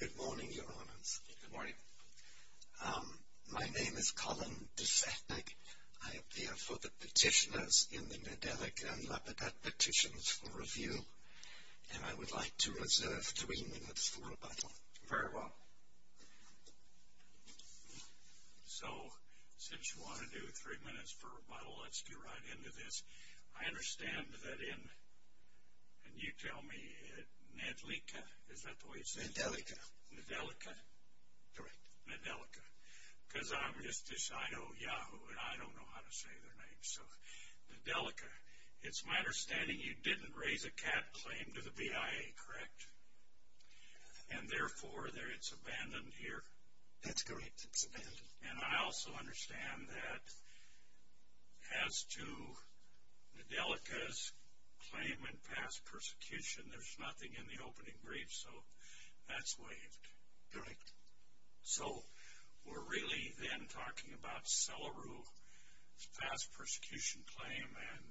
Good morning, Your Honors. Good morning. My name is Colin Desetnik. I appear for the petitioners in the Nedelika and Lepidot Petitions for Review, and I would like to reserve three minutes for rebuttal. Very well. So, since you want to do three minutes for rebuttal, let's get right into this. I understand that in, and you tell me, Nedelika, is that the way you say it? Nedelika. Nedelika. Correct. Nedelika. Because I'm just a shy old yahoo, and I don't know how to say their names. So, Nedelika. It's my understanding you didn't raise a cat claim to the BIA, correct? And therefore, it's abandoned here? That's correct. It's abandoned. And I also understand that as to Nedelika's claim in past persecution, there's nothing in the opening brief, so that's waived. Correct. So, we're really then talking about Selaru's past persecution claim, and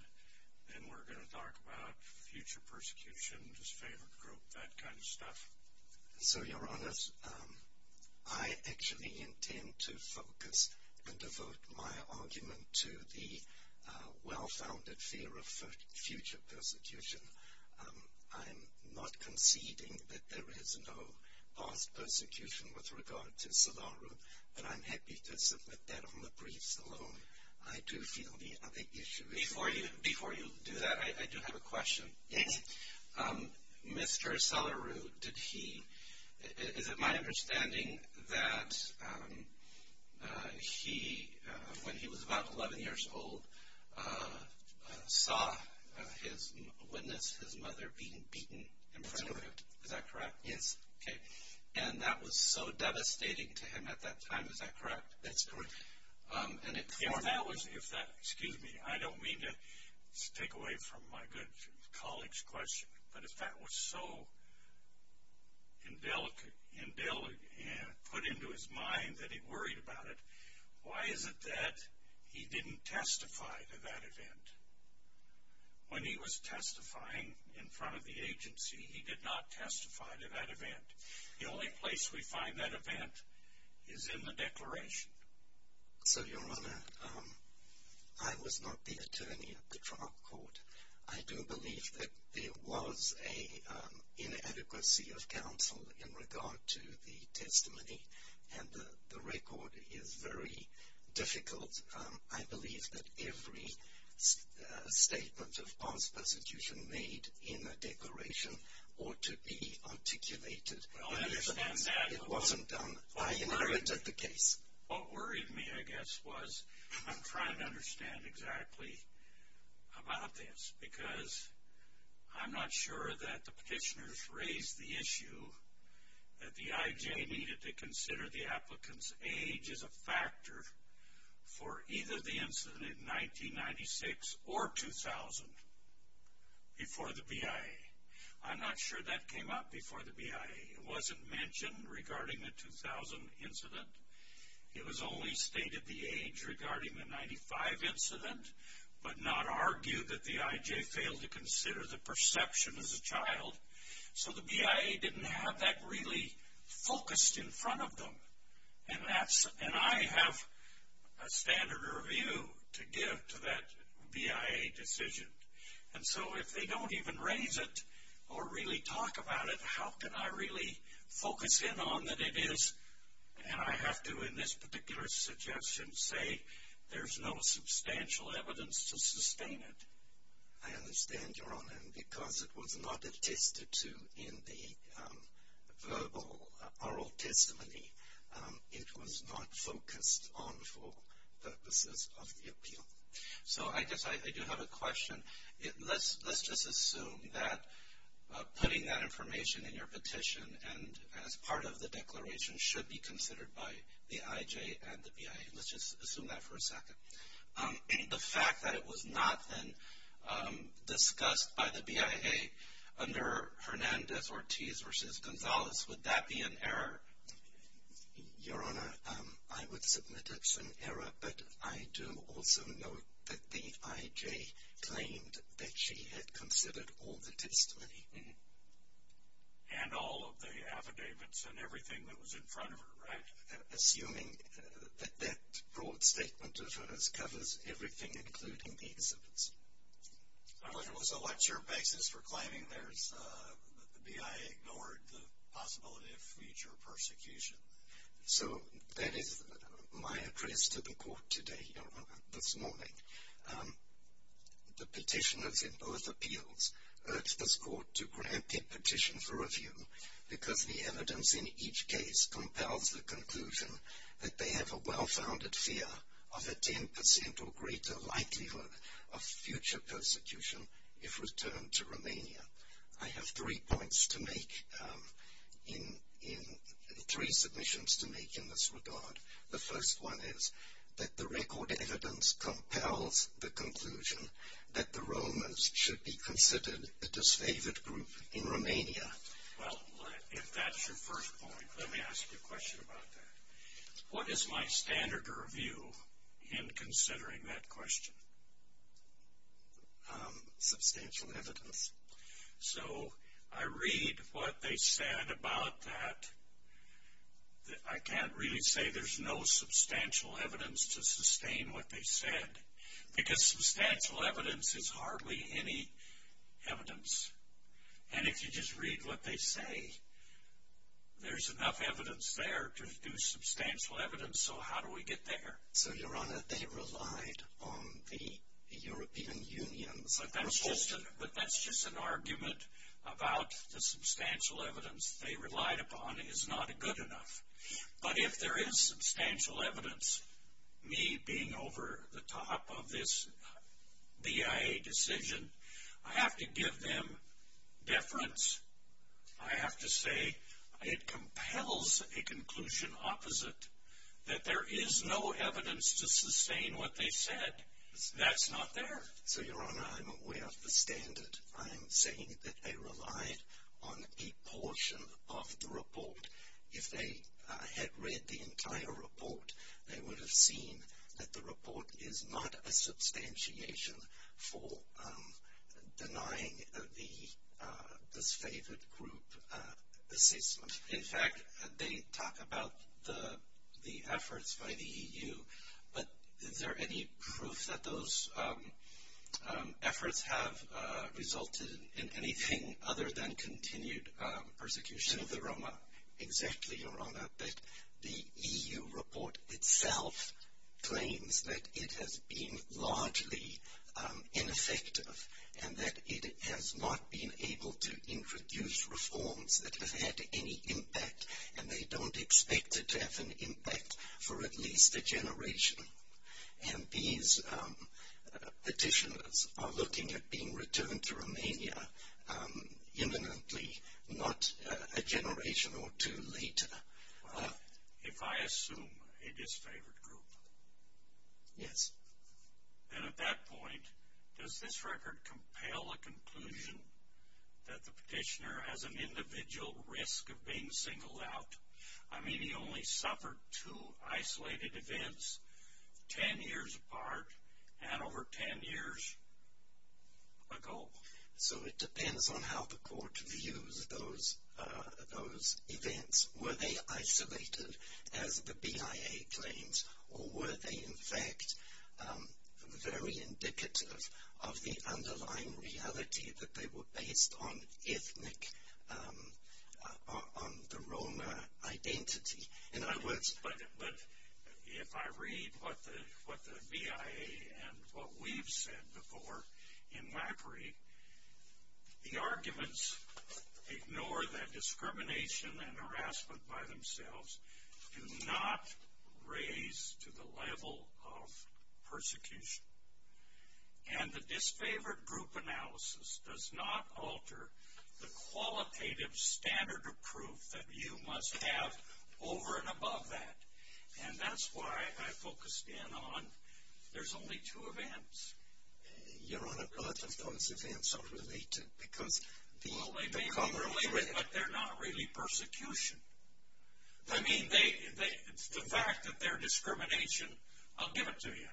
then we're going to talk about future persecution, his favorite group, that kind of stuff. So, Your Honors, I actually intend to focus and devote my argument to the well-founded fear of future persecution. I'm not conceding that there is no past persecution with regard to Selaru, but I'm happy to submit that on the briefs alone. I do feel the other issue is Before you do that, I do have a question. Yes. Mr. Selaru, is it my understanding that he, when he was about 11 years old, saw his mother being beaten in front of him? That's correct. Is that correct? Yes. And that was so devastating to him at that time, is that correct? That's correct. Excuse me, I don't mean to take away from my good colleague's question, but if that was so put into his mind that he worried about it, why is it that he didn't testify to that event? When he was testifying in front of the agency, he did not testify to that event. The only place we find that event is in the declaration. So, Your Honor, I was not the attorney at the trial court. I do believe that there was an inadequacy of counsel in regard to the testimony, and the record is very difficult. I believe that every statement of false prosecution made in the declaration ought to be articulated. Well, I understand that. It wasn't done by him. I read the case. What worried me, I guess, was I'm trying to understand exactly about this because I'm not sure that the petitioners raised the issue that the IJ needed to for either the incident in 1996 or 2000 before the BIA. I'm not sure that came up before the BIA. It wasn't mentioned regarding the 2000 incident. It was only stated the age regarding the 95 incident, but not argued that the IJ failed to consider the perception as a child. So the BIA didn't have that really focused in front of them, and I have a standard of review to give to that BIA decision. And so if they don't even raise it or really talk about it, how can I really focus in on that it is? And I have to, in this particular suggestion, say there's no substantial evidence to sustain it. I understand, Your Honor, and because it was not attested to in the verbal, oral testimony, it was not focused on for purposes of the appeal. So I guess I do have a question. Let's just assume that putting that information in your petition and as part of the declaration should be considered by the IJ and the BIA. Let's just assume that for a second. And the fact that it was not then discussed by the BIA under Hernandez-Ortiz v. Gonzalez, would that be an error? Your Honor, I would submit it's an error, but I do also note that the IJ claimed that she had considered all the testimony. And all of the affidavits and everything that was in front of her, right? Assuming that that broad statement of hers covers everything, including the exhibits. It was a lecture basis for claiming theirs, but the BIA ignored the possibility of future persecution. So that is my address to the Court today, Your Honor, this morning. The petitioners in both appeals urge this Court to grant the petition for review because the evidence in each case compels the conclusion that they have a well-founded fear of a 10% or greater likelihood of future persecution if returned to Romania. I have three points to make, three submissions to make in this regard. The first one is that the record evidence compels the conclusion that the Romans should be considered a disfavored group in Romania. Well, if that's your first point, let me ask you a question about that. What is my standard of review in considering that question? Substantial evidence. So I read what they said about that. I can't really say there's no substantial evidence to sustain what they said because substantial evidence is hardly any evidence. And if you just read what they say, there's enough evidence there to do substantial evidence. So how do we get there? So, Your Honor, they relied on the European Union's proposal. But that's just an argument about the substantial evidence they relied upon is not good enough. But if there is substantial evidence, me being over the top of this BIA decision, I have to give them deference. I have to say it compels a conclusion opposite, that there is no evidence to sustain what they said. That's not there. So, Your Honor, I'm aware of the standard. I'm saying that they relied on a portion of the report. If they had read the entire report, they would have seen that the report is not a substantiation for denying the disfavored group assessment. In fact, they talk about the efforts by the EU. But is there any proof that those efforts have resulted in anything other than continued persecution of the Roma? Exactly, Your Honor, that the EU report itself claims that it has been largely ineffective and that it has not been able to introduce reforms that have had any impact. And they don't expect it to have an impact for at least a generation. And these petitioners are looking at being returned to Romania imminently, not a generation or two later. If I assume a disfavored group? Yes. And at that point, does this record compel a conclusion that the petitioner has an individual risk of being singled out? I mean, he only suffered two isolated events, 10 years apart and over 10 years ago. So it depends on how the court views those events. Were they isolated, as the BIA claims, or were they, in fact, very indicative of the underlying reality that they were based on ethnic, on the Roma identity? But if I read what the BIA and what we've said before in LAPRI, the arguments ignore that discrimination and harassment by themselves do not raise to the level of persecution. And the disfavored group analysis does not alter the qualitative standard of proof that you must have over and above that. And that's why I focused in on there's only two events. Your Honor, both of those events are related because... Well, they may be related, but they're not really persecution. I mean, the fact that they're discrimination, I'll give it to you.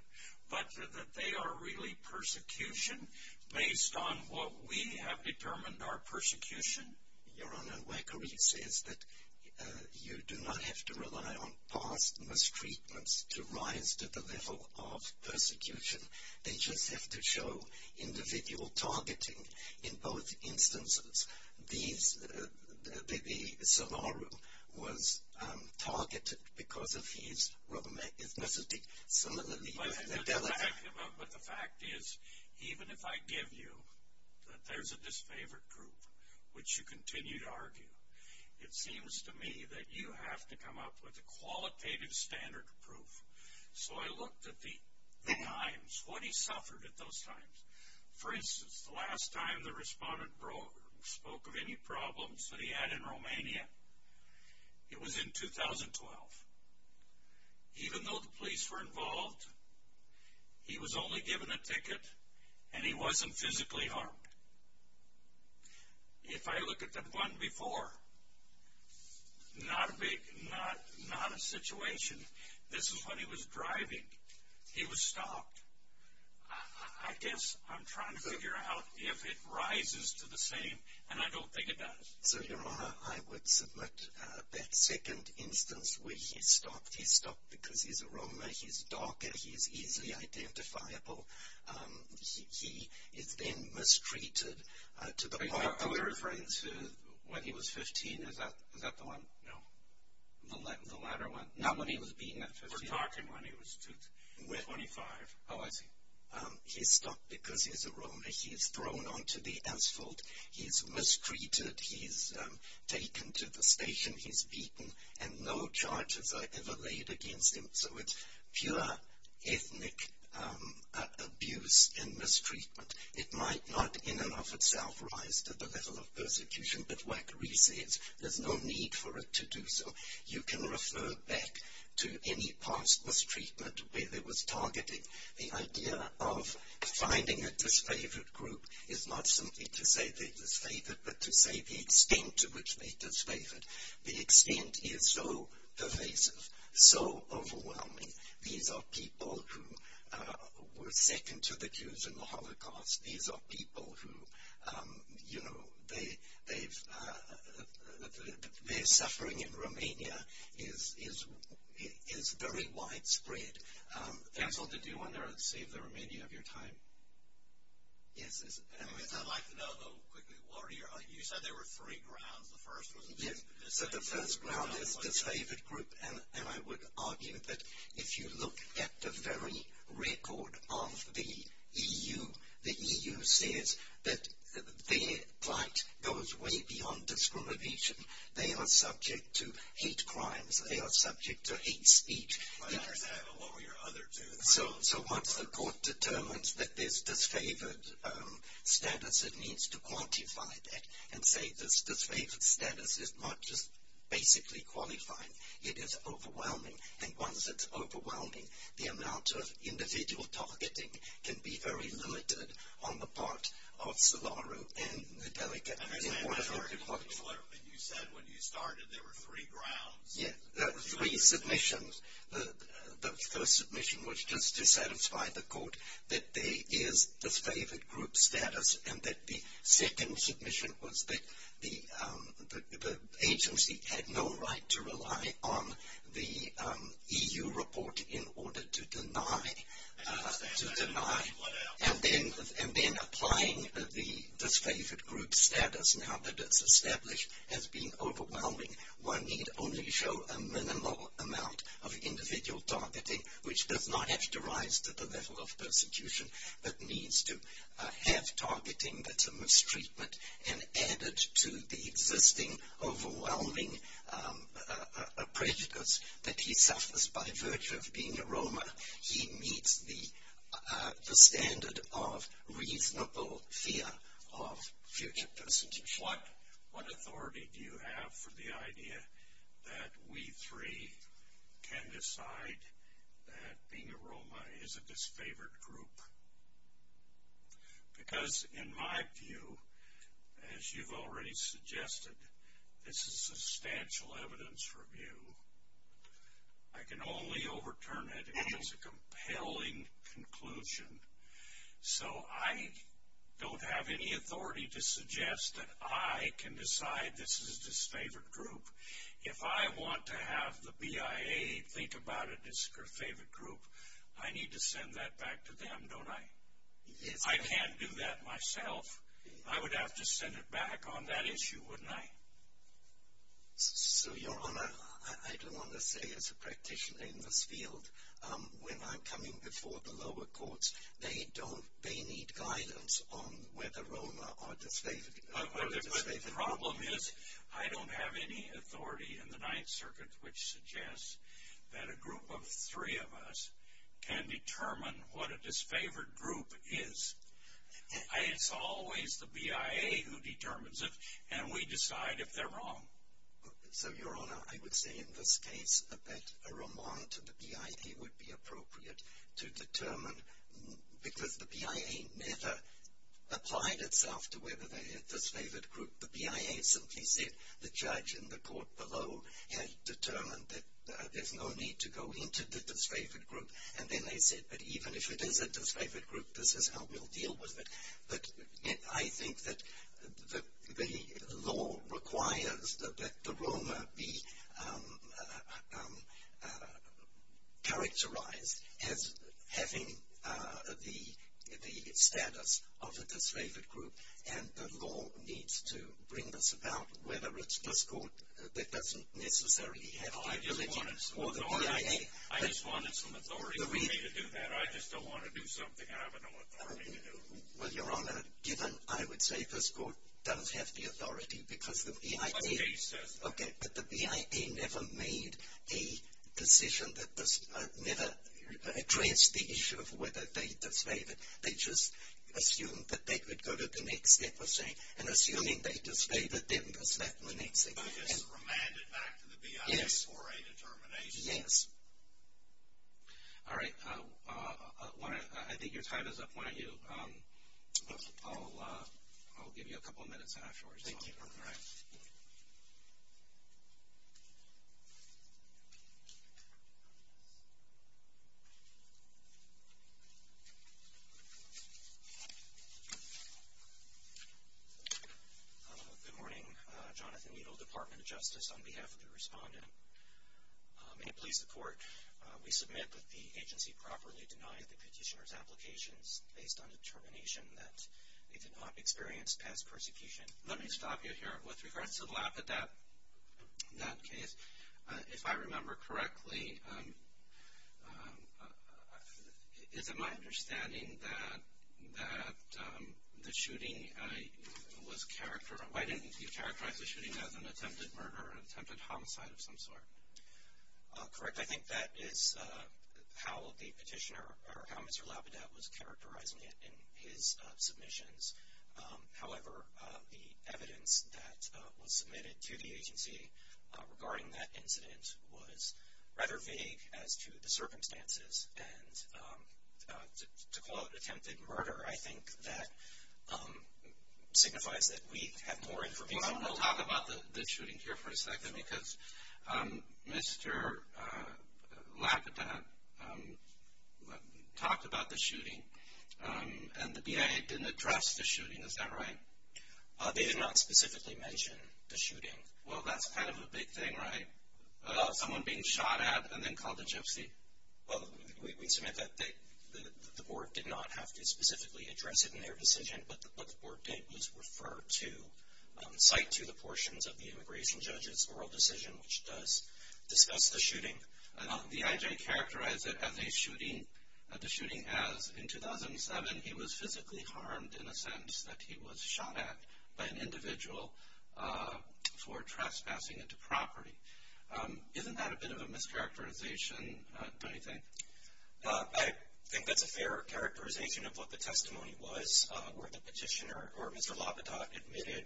But that they are really persecution, based on what we have determined are persecution? Your Honor, LAPRI says that you do not have to rely on past mistreatments to rise to the level of persecution. They just have to show individual targeting. In both instances, the Savaru was targeted because of his Roma ethnicity. But the fact is, even if I give you that there's a disfavored group, which you continue to argue, it seems to me that you have to come up with a qualitative standard of proof. So I looked at the times, what he suffered at those times. For instance, the last time the respondent spoke of any problems that he had in Romania, it was in 2012. Even though the police were involved, he was only given a ticket, and he wasn't physically harmed. If I look at the one before, not a situation. This is when he was driving. He was stalked. I guess I'm trying to figure out if it rises to the same, and I don't think it does. So, Your Honor, I would submit that second instance where he's stalked. He's stalked because he's a Roma. He's darker. He's easily identifiable. He is then mistreated to the point where... Are we referring to when he was 15? Is that the one? No. The latter one? Not when he was being at 15? We're talking when he was 25. Oh, I see. He's stalked because he's a Roma. He's thrown onto the asphalt. He's mistreated. He's taken to the station. He's beaten, and no charges are ever laid against him. So, it's pure ethnic abuse and mistreatment. It might not in and of itself rise to the level of persecution, but WACK resets. There's no need for it to do so. You can refer back to any past mistreatment where there was targeting. The idea of finding a disfavored group is not simply to say they're disfavored, but to say the extent to which they're disfavored. The extent is so pervasive, so overwhelming. These are people who were second to the Jews in the Holocaust. These are people who, you know, their suffering in Romania is very widespread. Council, did you want to save the Romania of your time? Yes. I'd like to know, though, quickly, what are your ideas? You said there were three grounds. The first was the disfavored group. So, the first ground is the disfavored group, and I would argue that if you look at the very record of the EU, the EU says that their plight goes way beyond discrimination. They are subject to hate crimes. They are subject to hate speech. I understand, but what were your other two? So, once the court determines that there's disfavored status, it needs to quantify that and say this disfavored status is not just basically qualifying. It is overwhelming, and once it's overwhelming, the amount of individual targeting can be very limited on the part of Solaru and the delegates in order to qualify. And you said when you started there were three grounds. Yes, there were three submissions. The first submission was just to satisfy the court that there is disfavored group status and that the second submission was that the agency had no right to rely on the EU report in order to deny and then applying the disfavored group status now that it's established has been overwhelming. One need only show a minimal amount of individual targeting, which does not have to rise to the level of persecution, but needs to have targeting that's a mistreatment and added to the existing overwhelming prejudice that he suffers by virtue of being a Roma. He meets the standard of reasonable fear of future persecution. What authority do you have for the idea that we three can decide that being a Roma is a disfavored group? Because in my view, as you've already suggested, this is substantial evidence review. I can only overturn it as a compelling conclusion. So I don't have any authority to suggest that I can decide this is a disfavored group. If I want to have the BIA think about a disfavored group, I need to send that back to them, don't I? I can't do that myself. I would have to send it back on that issue, wouldn't I? So, Your Honor, I do want to say as a practitioner in this field, when I'm coming before the lower courts, they need guidance on whether Roma are disfavored. The problem is I don't have any authority in the Ninth Circuit which suggests that a group of three of us can determine what a disfavored group is. It's always the BIA who determines it and we decide if they're wrong. So, Your Honor, I would say in this case that a remand to the BIA would be appropriate to determine because the BIA never applied itself to whether they had a disfavored group. The BIA simply said the judge in the court below had determined that there's no need to go into the disfavored group and then they said that even if it is a disfavored group, this is how we'll deal with it. But I think that the law requires that the Roma be characterized as having the status of a disfavored group and the law needs to bring this about whether it's this court that doesn't necessarily have the ability or the BIA. I just wanted some authority for me to do that. I just don't want to do something I have no authority to do. Well, Your Honor, given, I would say this court does have the authority because the BIA But the case says that. Okay, but the BIA never made a decision that never addressed the issue of whether they disfavored. They just assumed that they could go to the next step of saying, and assuming they disfavored, then was left in the Ninth Circuit. They just remanded back to the BIA for a determination. Yes. All right. I think your time is up. Why don't you, I'll give you a couple of minutes afterwards. Thank you, Your Honor. All right. Thank you. Good morning. Jonathan Weedle, Department of Justice, on behalf of the respondent. May it please the Court, we submit that the agency properly denied the petitioner's applications based on determination that they did not experience past persecution. Let me stop you here. With regards to Lapidate, that case, if I remember correctly, is it my understanding that the shooting was characterized, why didn't you characterize the shooting as an attempted murder or attempted homicide of some sort? Correct. I think that is how the petitioner, or how Mr. Lapidate was characterized in his submissions. However, the evidence that was submitted to the agency regarding that incident was rather vague as to the circumstances, and to call it attempted murder, I think that signifies that we have more information. I want to talk about the shooting here for a second because Mr. Lapidate talked about the shooting, and the BIA didn't address the shooting, is that right? They did not specifically mention the shooting. Well, that's kind of a big thing, right? Someone being shot at and then called a gypsy. Well, we submit that the Board did not have to specifically address it in their decision, but what the Board did was refer to, cite to the portions of the immigration judge's oral decision, which does discuss the shooting. The IJ characterized the shooting as, in 2007, he was physically harmed in a sense that he was shot at by an individual for trespassing into property. Isn't that a bit of a mischaracterization, don't you think? I think that's a fair characterization of what the testimony was, where the petitioner or Mr. Lapidate admitted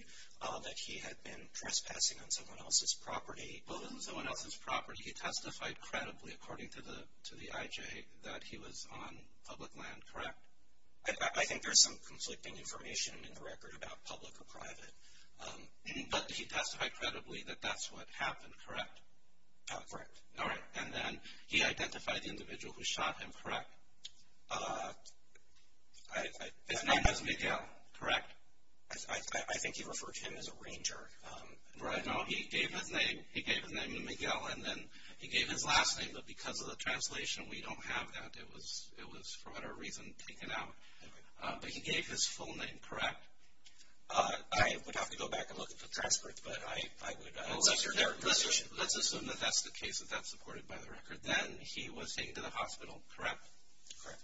that he had been trespassing on someone else's property. Well, it wasn't someone else's property. He testified credibly, according to the IJ, that he was on public land, correct? I think there's some conflicting information in the record about public or private. But he testified credibly that that's what happened, correct? Correct. All right. And then he identified the individual who shot him, correct? His name was Miguel, correct? I think he referred to him as a ranger. No, he gave his name. He gave his name to Miguel, and then he gave his last name. But because of the translation, we don't have that. It was, for whatever reason, taken out. But he gave his full name, correct? I would have to go back and look at the transcript. But I would assume that that's the case if that's supported by the record. Then he was taken to the hospital, correct? Correct.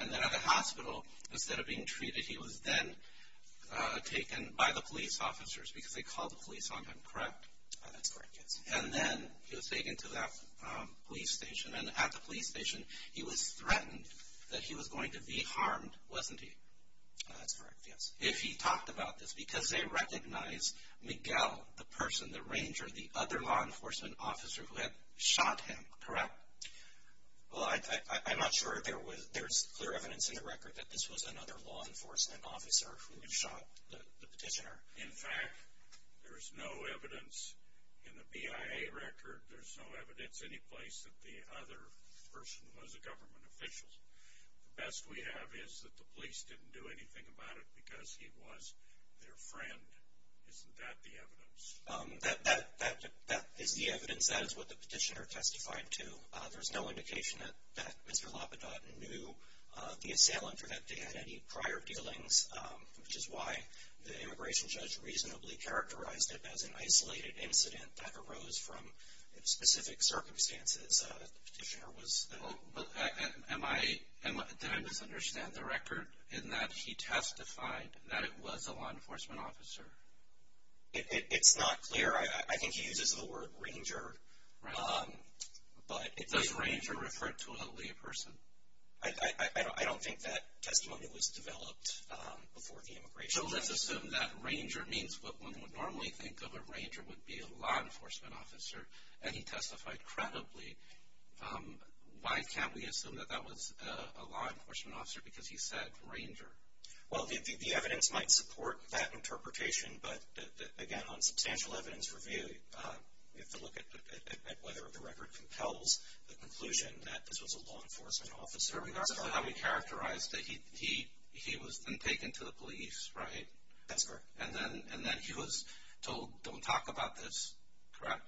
And then at the hospital, instead of being treated, he was then taken by the police officers because they called the police on him, correct? That's correct, yes. And then he was taken to that police station, and at the police station he was threatened that he was going to be harmed, wasn't he? That's correct, yes. If he talked about this because they recognized Miguel, the person, the ranger, the other law enforcement officer who had shot him, correct? Well, I'm not sure there's clear evidence in the record that this was another law enforcement officer who shot the petitioner. In fact, there's no evidence in the BIA record, there's no evidence anyplace that the other person was a government official. The best we have is that the police didn't do anything about it because he was their friend. Isn't that the evidence? That is the evidence. That is what the petitioner testified to. There's no indication that Mr. Lapidot knew the assailant or that they had any prior dealings, which is why the immigration judge reasonably characterized it as an isolated incident that arose from specific circumstances. The petitioner was at home. Did I misunderstand the record in that he testified that it was a law enforcement officer? It's not clear. I think he uses the word ranger. Does ranger refer to only a person? I don't think that testimony was developed before the immigration judge. So let's assume that ranger means what one would normally think of a ranger would be a law enforcement officer, and he testified credibly. Why can't we assume that that was a law enforcement officer because he said ranger? Well, the evidence might support that interpretation, but, again, on substantial evidence review, you have to look at whether the record compels the conclusion that this was a law enforcement officer. That's how he characterized it. He was then taken to the police, right? That's correct. And then he was told, don't talk about this, correct?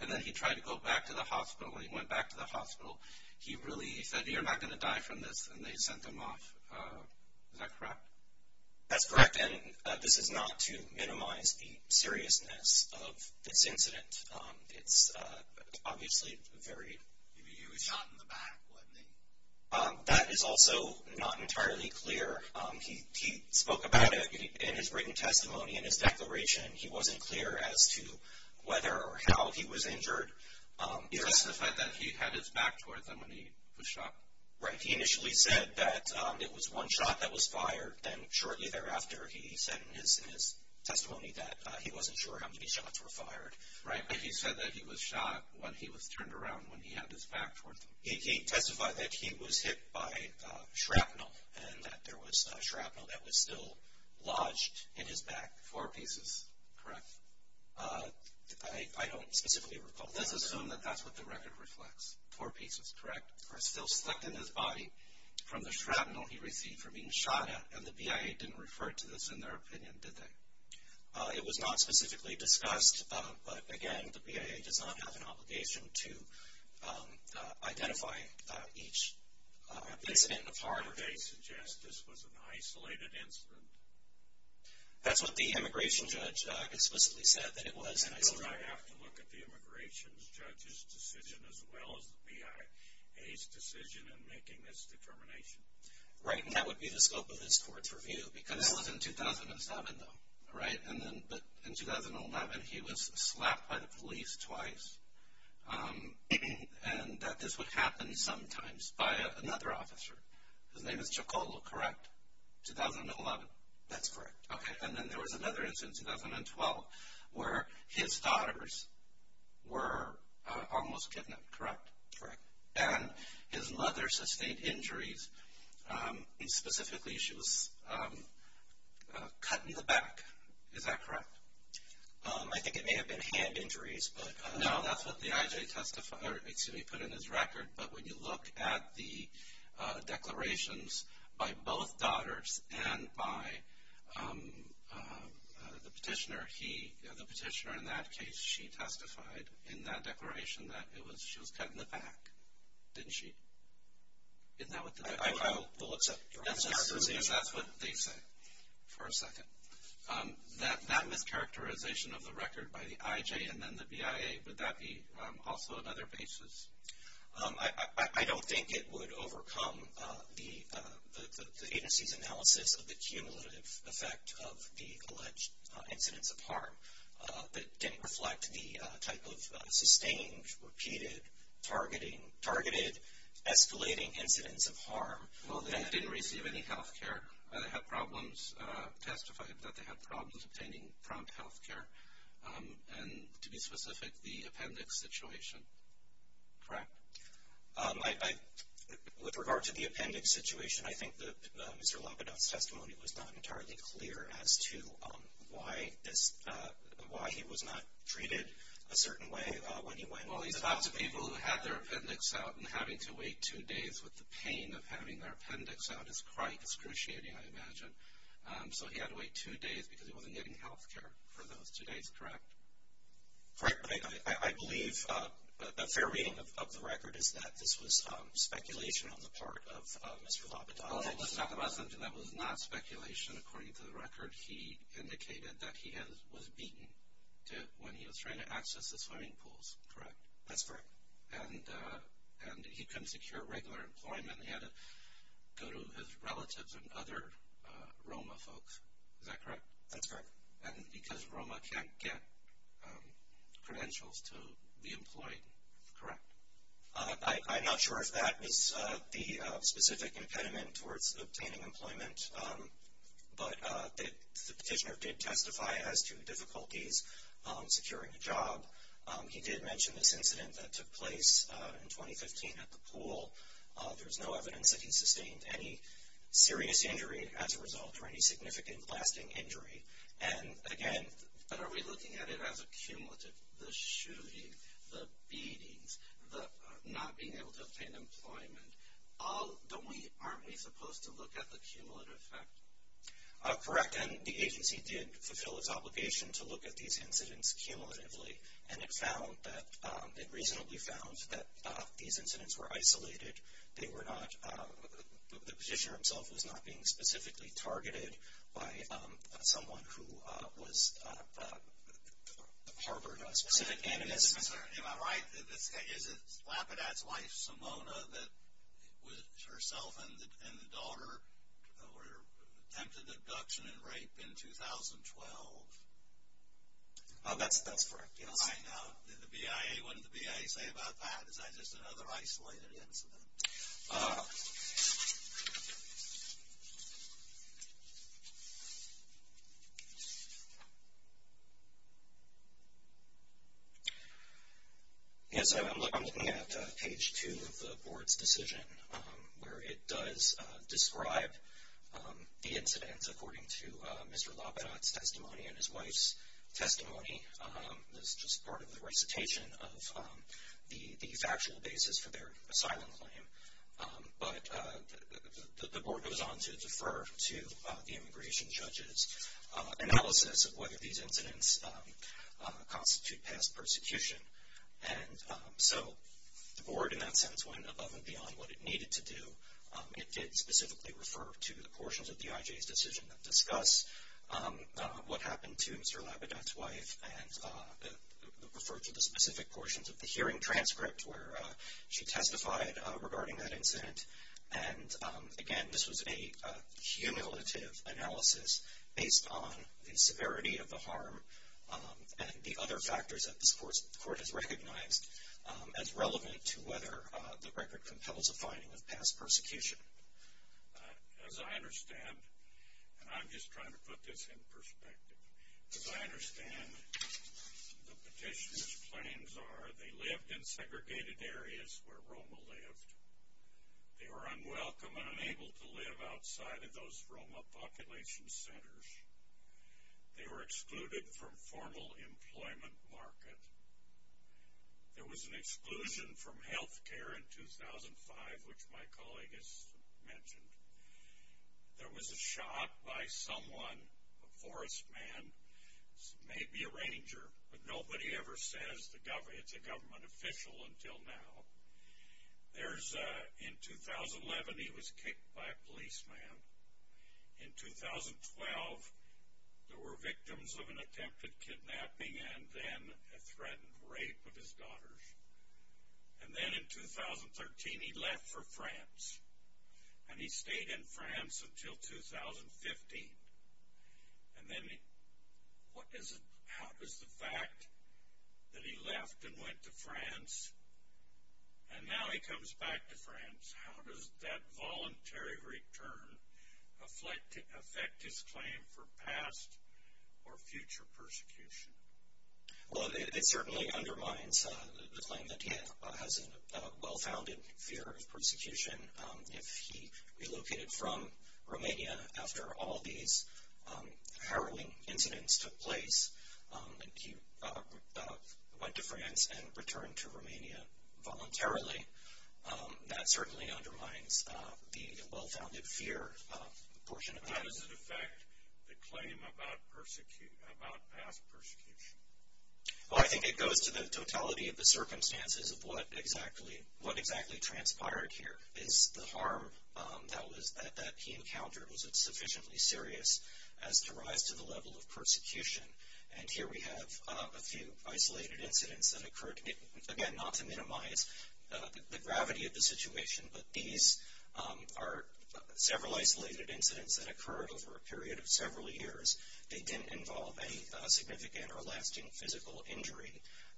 And then he tried to go back to the hospital, and he went back to the hospital. He really said, you're not going to die from this, and they sent him off. Is that correct? That's correct. And this is not to minimize the seriousness of this incident. It's obviously very huge. He was shot in the back, wasn't he? That is also not entirely clear. He spoke about it in his written testimony, in his declaration. He wasn't clear as to whether or how he was injured. He testified that he had his back toward them when he was shot. Right. He initially said that it was one shot that was fired. Then shortly thereafter, he said in his testimony that he wasn't sure how many shots were fired. Right, but he said that he was shot when he was turned around, when he had his back toward them. He testified that he was hit by shrapnel, and that there was shrapnel that was still lodged in his back. Four pieces, correct? I don't specifically recall. Let's assume that that's what the record reflects. Four pieces, correct? That are still stuck in his body from the shrapnel he received from being shot at, and the BIA didn't refer to this in their opinion, did they? It was not specifically discussed, but, again, the BIA does not have an obligation to identify each incident or part of it. They suggest this was an isolated incident. That's what the immigration judge explicitly said, that it was an isolated incident. I have to look at the immigration judge's decision as well as the BIA's decision in making this determination. Right, and that would be the scope of this court's review, because this was in 2007, though, right? But in 2011, he was slapped by the police twice, and that this would happen sometimes by another officer. His name is Chocolo, correct? 2011. That's correct. Okay, and then there was another incident in 2012 where his daughters were almost kidnapped, correct? Correct. And his mother sustained injuries. Specifically, she was cut in the back. Is that correct? I think it may have been hand injuries. No, that's what the IJ put in his record, but when you look at the declarations by both daughters and by the petitioner, the petitioner in that case, she testified in that declaration that she was cut in the back. Didn't she? Isn't that what the record said? That mischaracterization of the record by the IJ and then the BIA, would that be also another basis? I don't think it would overcome the agency's analysis of the cumulative effect of the alleged incidents of harm that didn't reflect the type of sustained, repeated, targeted, escalating incidents of harm. Well, they didn't receive any health care. They testified that they had problems obtaining prompt health care, and to be specific, the appendix situation, correct? With regard to the appendix situation, I think that Mr. Lapidot's testimony was not entirely clear as to why he was not treated a certain way when he went. Well, he talked to people who had their appendix out, and having to wait two days with the pain of having their appendix out is quite excruciating, I imagine. So he had to wait two days because he wasn't getting health care for those two days, correct? Correct. I believe a fair reading of the record is that this was speculation on the part of Mr. Lapidot. Well, let's talk about something that was not speculation. According to the record, he indicated that he was beaten when he was trying to access the swimming pools, correct? That's correct. And he couldn't secure regular employment. He had to go to his relatives and other ROMA folks, is that correct? That's correct. And because ROMA can't get credentials to be employed, correct? I'm not sure if that was the specific impediment towards obtaining employment, but the petitioner did testify as to difficulties securing a job. He did mention this incident that took place in 2015 at the pool. There's no evidence that he sustained any serious injury as a result or any significant lasting injury. And, again, but are we looking at it as a cumulative, the shooting, the beatings, the not being able to obtain employment, aren't we supposed to look at the cumulative effect? Correct. And the agency did fulfill its obligation to look at these incidents cumulatively, and it found that it reasonably found that these incidents were isolated. The petitioner himself was not being specifically targeted by someone who harbored a specific animus. Am I right? Is it Lapidat's wife, Simona, that herself and the daughter attempted abduction and rape in 2012? That's correct, yes. I know. The BIA, what did the BIA say about that? Is that just another isolated incident? Yes, I'm looking at page two of the board's decision, where it does describe the incidents according to Mr. Lapidat's testimony and his wife's testimony. That's just part of the recitation of the factual basis for their asylum claim. But the board goes on to defer to the immigration judge's analysis of whether these incidents constitute past persecution. And so the board, in that sense, went above and beyond what it needed to do. It did specifically refer to the portions of the IJ's decision that discuss what happened to Mr. Lapidat's wife and refer to the specific portions of the hearing transcript where she testified regarding that incident. And, again, this was a cumulative analysis based on the severity of the harm and the other factors that this court has recognized as relevant to whether the record compels a finding of past persecution. As I understand, and I'm just trying to put this in perspective, as I understand the petitioner's claims are they lived in segregated areas where ROMA lived. They were unwelcome and unable to live outside of those ROMA population centers. They were excluded from formal employment market. There was an exclusion from healthcare in 2005, which my colleague has mentioned. There was a shot by someone, a forest man, maybe a ranger, but nobody ever says it's a government official until now. In 2011, he was kicked by a policeman. In 2012, there were victims of an attempted kidnapping and then a threatened rape of his daughters. And then in 2013, he left for France. And he stayed in France until 2015. And then what is it, how does the fact that he left and went to France and now he comes back to France, how does that voluntary return affect his claim for past or future persecution? Well, it certainly undermines the claim that he has a well-founded fear of persecution. If he relocated from Romania after all these harrowing incidents took place, and he went to France and returned to Romania voluntarily, that certainly undermines the well-founded fear portion of that. How does it affect the claim about past persecution? Well, I think it goes to the totality of the circumstances of what exactly transpired here. Is the harm that he encountered, was it sufficiently serious as to rise to the level of persecution? And here we have a few isolated incidents that occurred. Again, not to minimize the gravity of the situation, but these are several isolated incidents that occurred over a period of several years. They didn't involve any significant or lasting physical injury.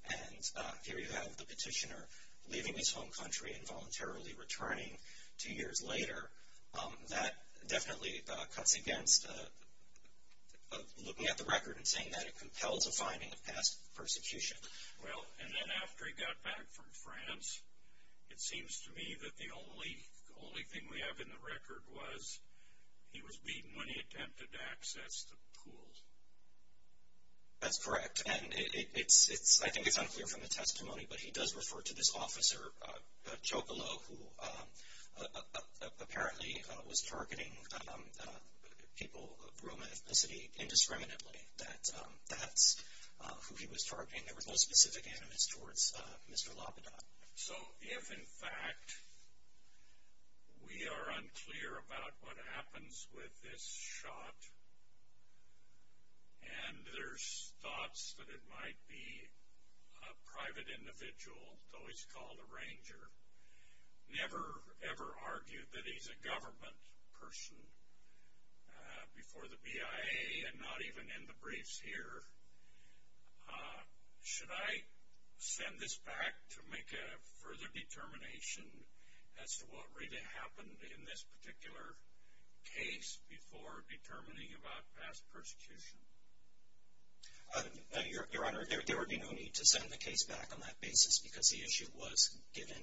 And here you have the petitioner leaving his home country and voluntarily returning two years later. That definitely cuts against looking at the record and saying that it compels a finding of past persecution. Well, and then after he got back from France, it seems to me that the only thing we have in the record was he was beaten when he attempted to access the pool. That's correct. And I think it's unclear from the testimony, but he does refer to this officer, Chocolo, who apparently was targeting people of Burma ethnicity indiscriminately. That's who he was targeting. There was no specific animus towards Mr. Lapidot. So if, in fact, we are unclear about what happens with this shot, and there's thoughts that it might be a private individual, though he's called a ranger, never, ever argue that he's a government person before the BIA and not even in the briefs here. Should I send this back to make a further determination as to what really happened in this particular case before determining about past persecution? Your Honor, there would be no need to send the case back on that basis because the issue was given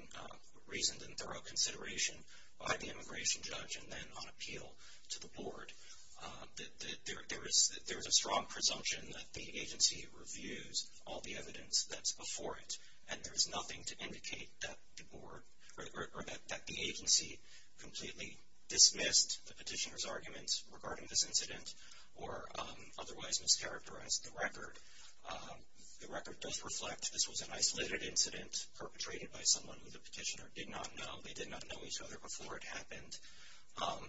reasoned and thorough consideration by the immigration judge and then on appeal to the board. There is a strong presumption that the agency reviews all the evidence that's before it, and there's nothing to indicate that the agency completely dismissed the petitioner's arguments regarding this incident or otherwise mischaracterized the record. The record does reflect this was an isolated incident perpetrated by someone who the petitioner did not know. They did not know each other before it happened.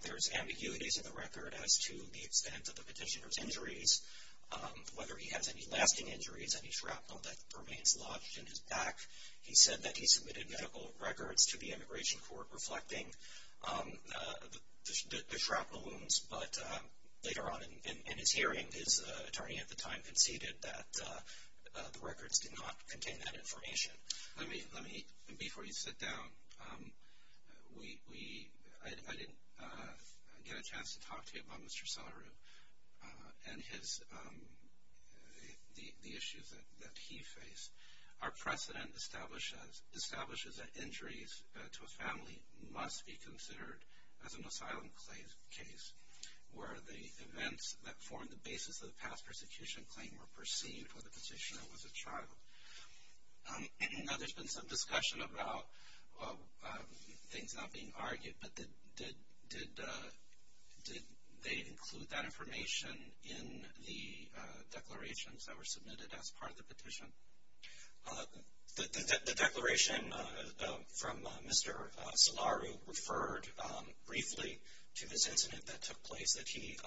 There's ambiguities in the record as to the extent of the petitioner's injuries, whether he has any lasting injuries, any shrapnel that remains lodged in his back. He said that he submitted medical records to the immigration court reflecting the shrapnel wounds, but later on in his hearing, his attorney at the time conceded that the records did not contain that information. Let me, before you sit down, I didn't get a chance to talk to you about Mr. Salaru and the issues that he faced. Our precedent establishes that injuries to a family must be considered as an asylum case, where the events that formed the basis of the past persecution claim were perceived when the petitioner was a child. I know there's been some discussion about things not being argued, but did they include that information in the declarations that were submitted as part of the petition? The declaration from Mr. Salaru referred briefly to this incident that took place that he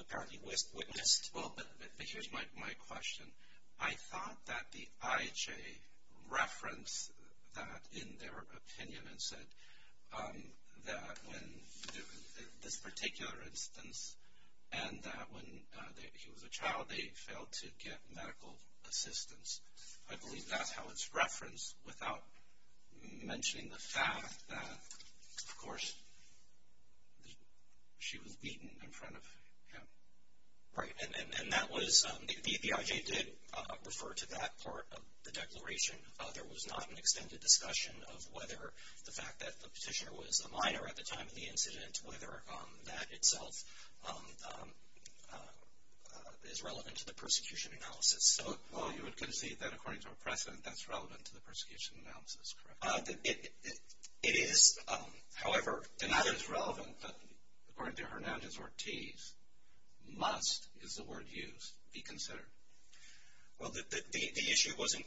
apparently witnessed. Well, but here's my question. I thought that the IHA referenced that in their opinion and said that in this particular instance and that when he was a child, they failed to get medical assistance. I believe that's how it's referenced without mentioning the fact that, of course, she was beaten in front of him. Right, and that was, the IHA did refer to that part of the declaration. There was not an extended discussion of whether the fact that the petitioner was a minor at the time of the incident, whether that itself is relevant to the persecution analysis. Well, you would concede that according to our precedent, that's relevant to the persecution analysis, correct? It is, however, not as relevant, but according to Hernandez-Ortiz, must, is the word used, be considered. Well, the issue wasn't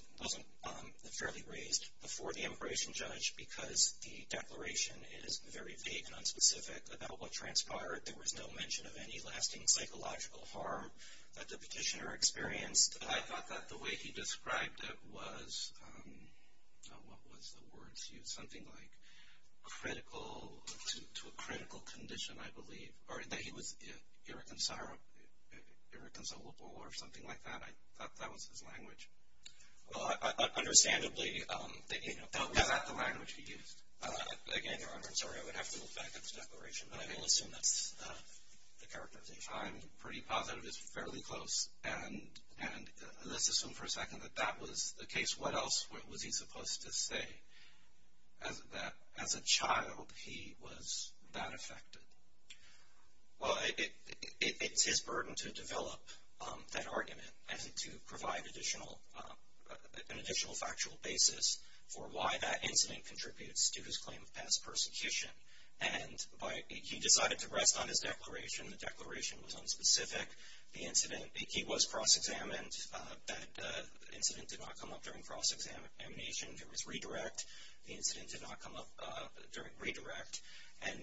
fairly raised before the immigration judge because the declaration is very vague and unspecific about what transpired. There was no mention of any lasting psychological harm that the petitioner experienced. I thought that the way he described it was, what was the word used? Something like critical, to a critical condition, I believe, or that he was irreconcilable or something like that. I thought that was his language. Understandably, that was not the language he used. Again, Your Honor, I'm sorry, I would have to look back at the declaration, but I will assume that's the character of the IHA. I'm pretty positive it's fairly close, and let's assume for a second that that was the case. What else was he supposed to say? As a child, he was that affected. Well, it's his burden to develop that argument and to provide an additional factual basis for why that incident contributes to his claim of past persecution. He decided to rest on his declaration. The declaration was unspecific. He was cross-examined. That incident did not come up during cross-examination. There was redirect. The incident did not come up during redirect. And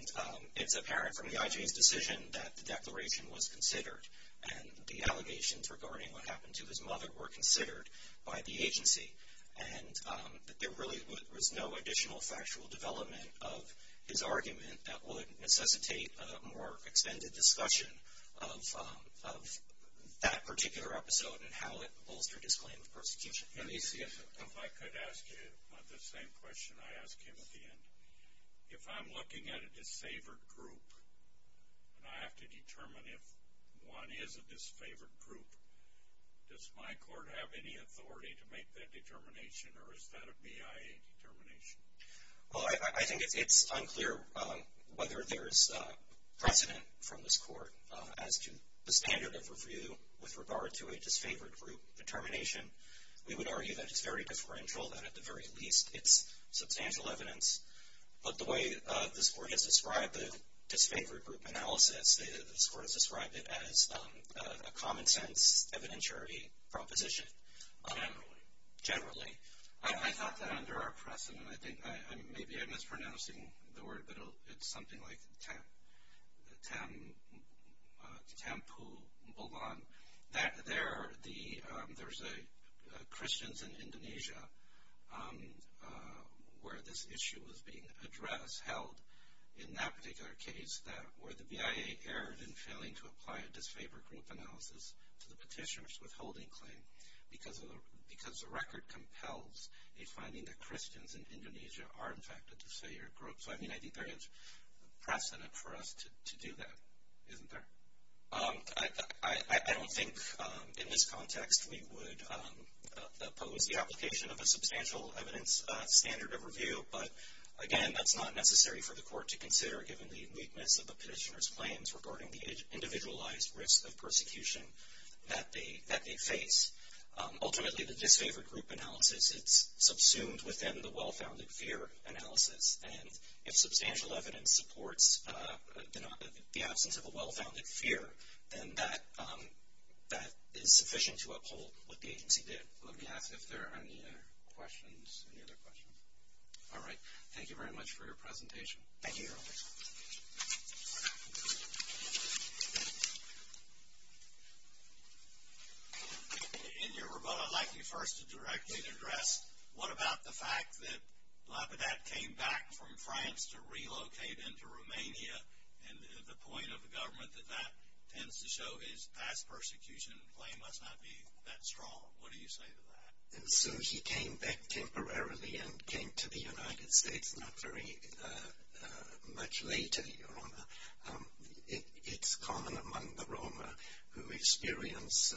it's apparent from the IJA's decision that the declaration was considered and the allegations regarding what happened to his mother were considered by the agency and that there really was no additional factual development of his argument that would necessitate a more extended discussion of that particular episode and how it bolstered his claim of persecution. Let me see if I could ask you the same question I asked him at the end. If I'm looking at a disfavored group and I have to determine if one is a disfavored group, does my court have any authority to make that determination or is that a BIA determination? Well, I think it's unclear whether there's precedent from this court as to the standard of review with regard to a disfavored group determination. We would argue that it's very differential, that at the very least it's substantial evidence. But the way this court has described the disfavored group analysis, this court has described it as a common sense evidentiary proposition. Generally. Generally. I thought that under our precedent, I think maybe I'm mispronouncing the word, but it's something like tempulbong, that there's a Christians in Indonesia where this issue was being addressed, held in that particular case, where the BIA erred in failing to apply a disfavored group analysis to the petitioner's withholding claim because the record compels a finding that Christians in Indonesia are in fact a disfavored group. So, I mean, I think there is precedent for us to do that, isn't there? I don't think in this context we would oppose the application of a substantial evidence standard of review. But, again, that's not necessary for the court to consider, given the weakness of the petitioner's claims regarding the individualized risk of persecution that they face. Ultimately, the disfavored group analysis, it's subsumed within the well-founded fear analysis. And if substantial evidence supports the absence of a well-founded fear, then that is sufficient to uphold what the agency did. Let me ask if there are any questions, any other questions. All right. Thank you very much for your presentation. Thank you. In your rebuttal, I'd like you first to directly address, what about the fact that Lapidate came back from France to relocate into Romania, and the point of the government that that tends to show is past persecution claim must not be that strong. What do you say to that? So he came back temporarily and came to the United States not very much later, Your Honour. It's common among the Roma who experience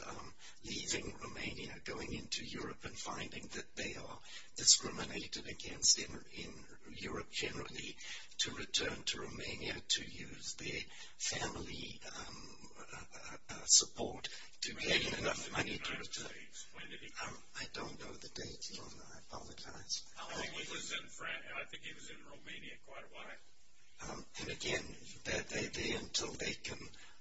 leaving Romania, going into Europe, and finding that they are discriminated against in Europe generally to return to Romania to use their family support to gain enough money to return. When did he come? I don't know the date, Your Honour. I apologize. I think he was in Romania quite a while. And again, they're there until they can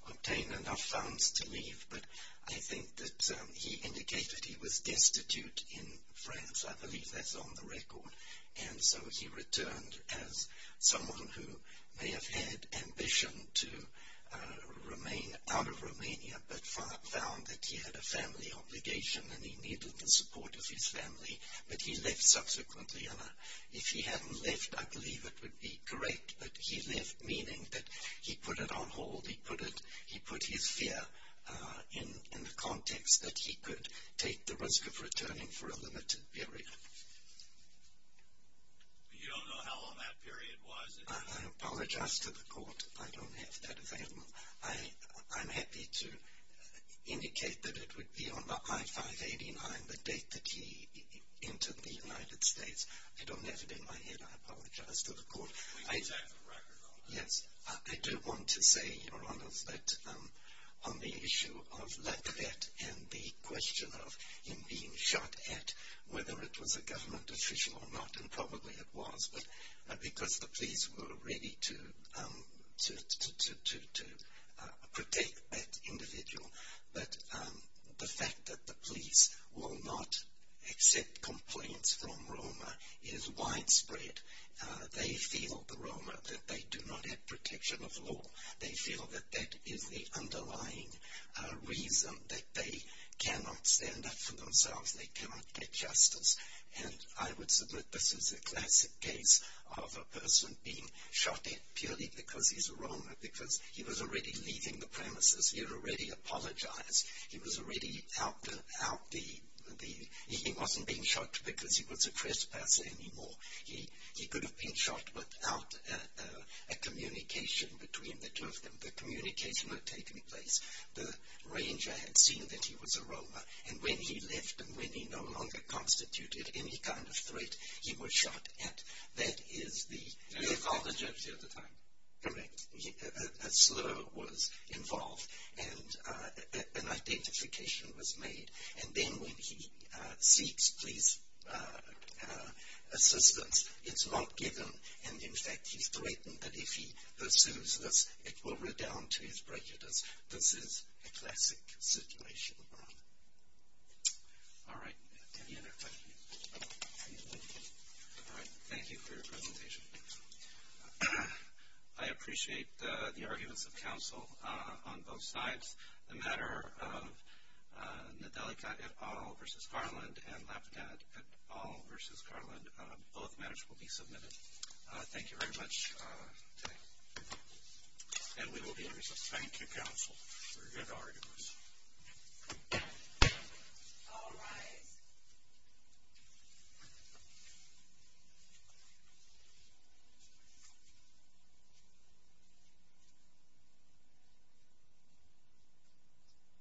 obtain enough funds to leave. But I think that he indicated he was destitute in France. I believe that's on the record. And so he returned as someone who may have had ambition to remain out of Romania, but found that he had a family obligation and he needed the support of his family, but he left subsequently. And if he hadn't left, I believe it would be correct, but he left meaning that he put it on hold, he put his fear in the context that he could take the risk of returning for a limited period. You don't know how long that period was? I apologize to the Court. I don't have that available. I'm happy to indicate that it would be on the I-589, the date that he entered the United States. I don't have it in my head. We can take the record on that. Yes, I do want to say, Your Honour, that on the issue of Lafayette and the question of him being shot at, whether it was a government official or not, and probably it was because the police were ready to protect that individual. But the fact that the police will not accept complaints from Roma is widespread. They feel, the Roma, that they do not have protection of law. They feel that that is the underlying reason that they cannot stand up for themselves. They cannot get justice. And I would submit this is a classic case of a person being shot at purely because he's a Roma, because he was already leaving the premises. He had already apologized. He was already out the... He wasn't being shot because he was a trespasser anymore. He could have been shot without a communication between the two of them. The communication had taken place. The ranger had seen that he was a Roma, and when he left and when he no longer constituted any kind of threat, he was shot at. That is the... And he apologized the other time. Correct. A slur was involved and an identification was made. And then when he seeks police assistance, it's not given. And, in fact, he's threatened that if he pursues this, it will redound to his prejudice. This is a classic situation. All right. Thank you for your presentation. I appreciate the arguments of counsel on both sides. The matter of Nadelika et al. versus Garland and Lapidat et al. versus Garland, both matters will be submitted. Thank you very much today. And we will be in recess. Thank you, counsel, for your good arguments. All rise.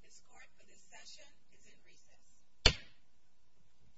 This court for this session is in recess.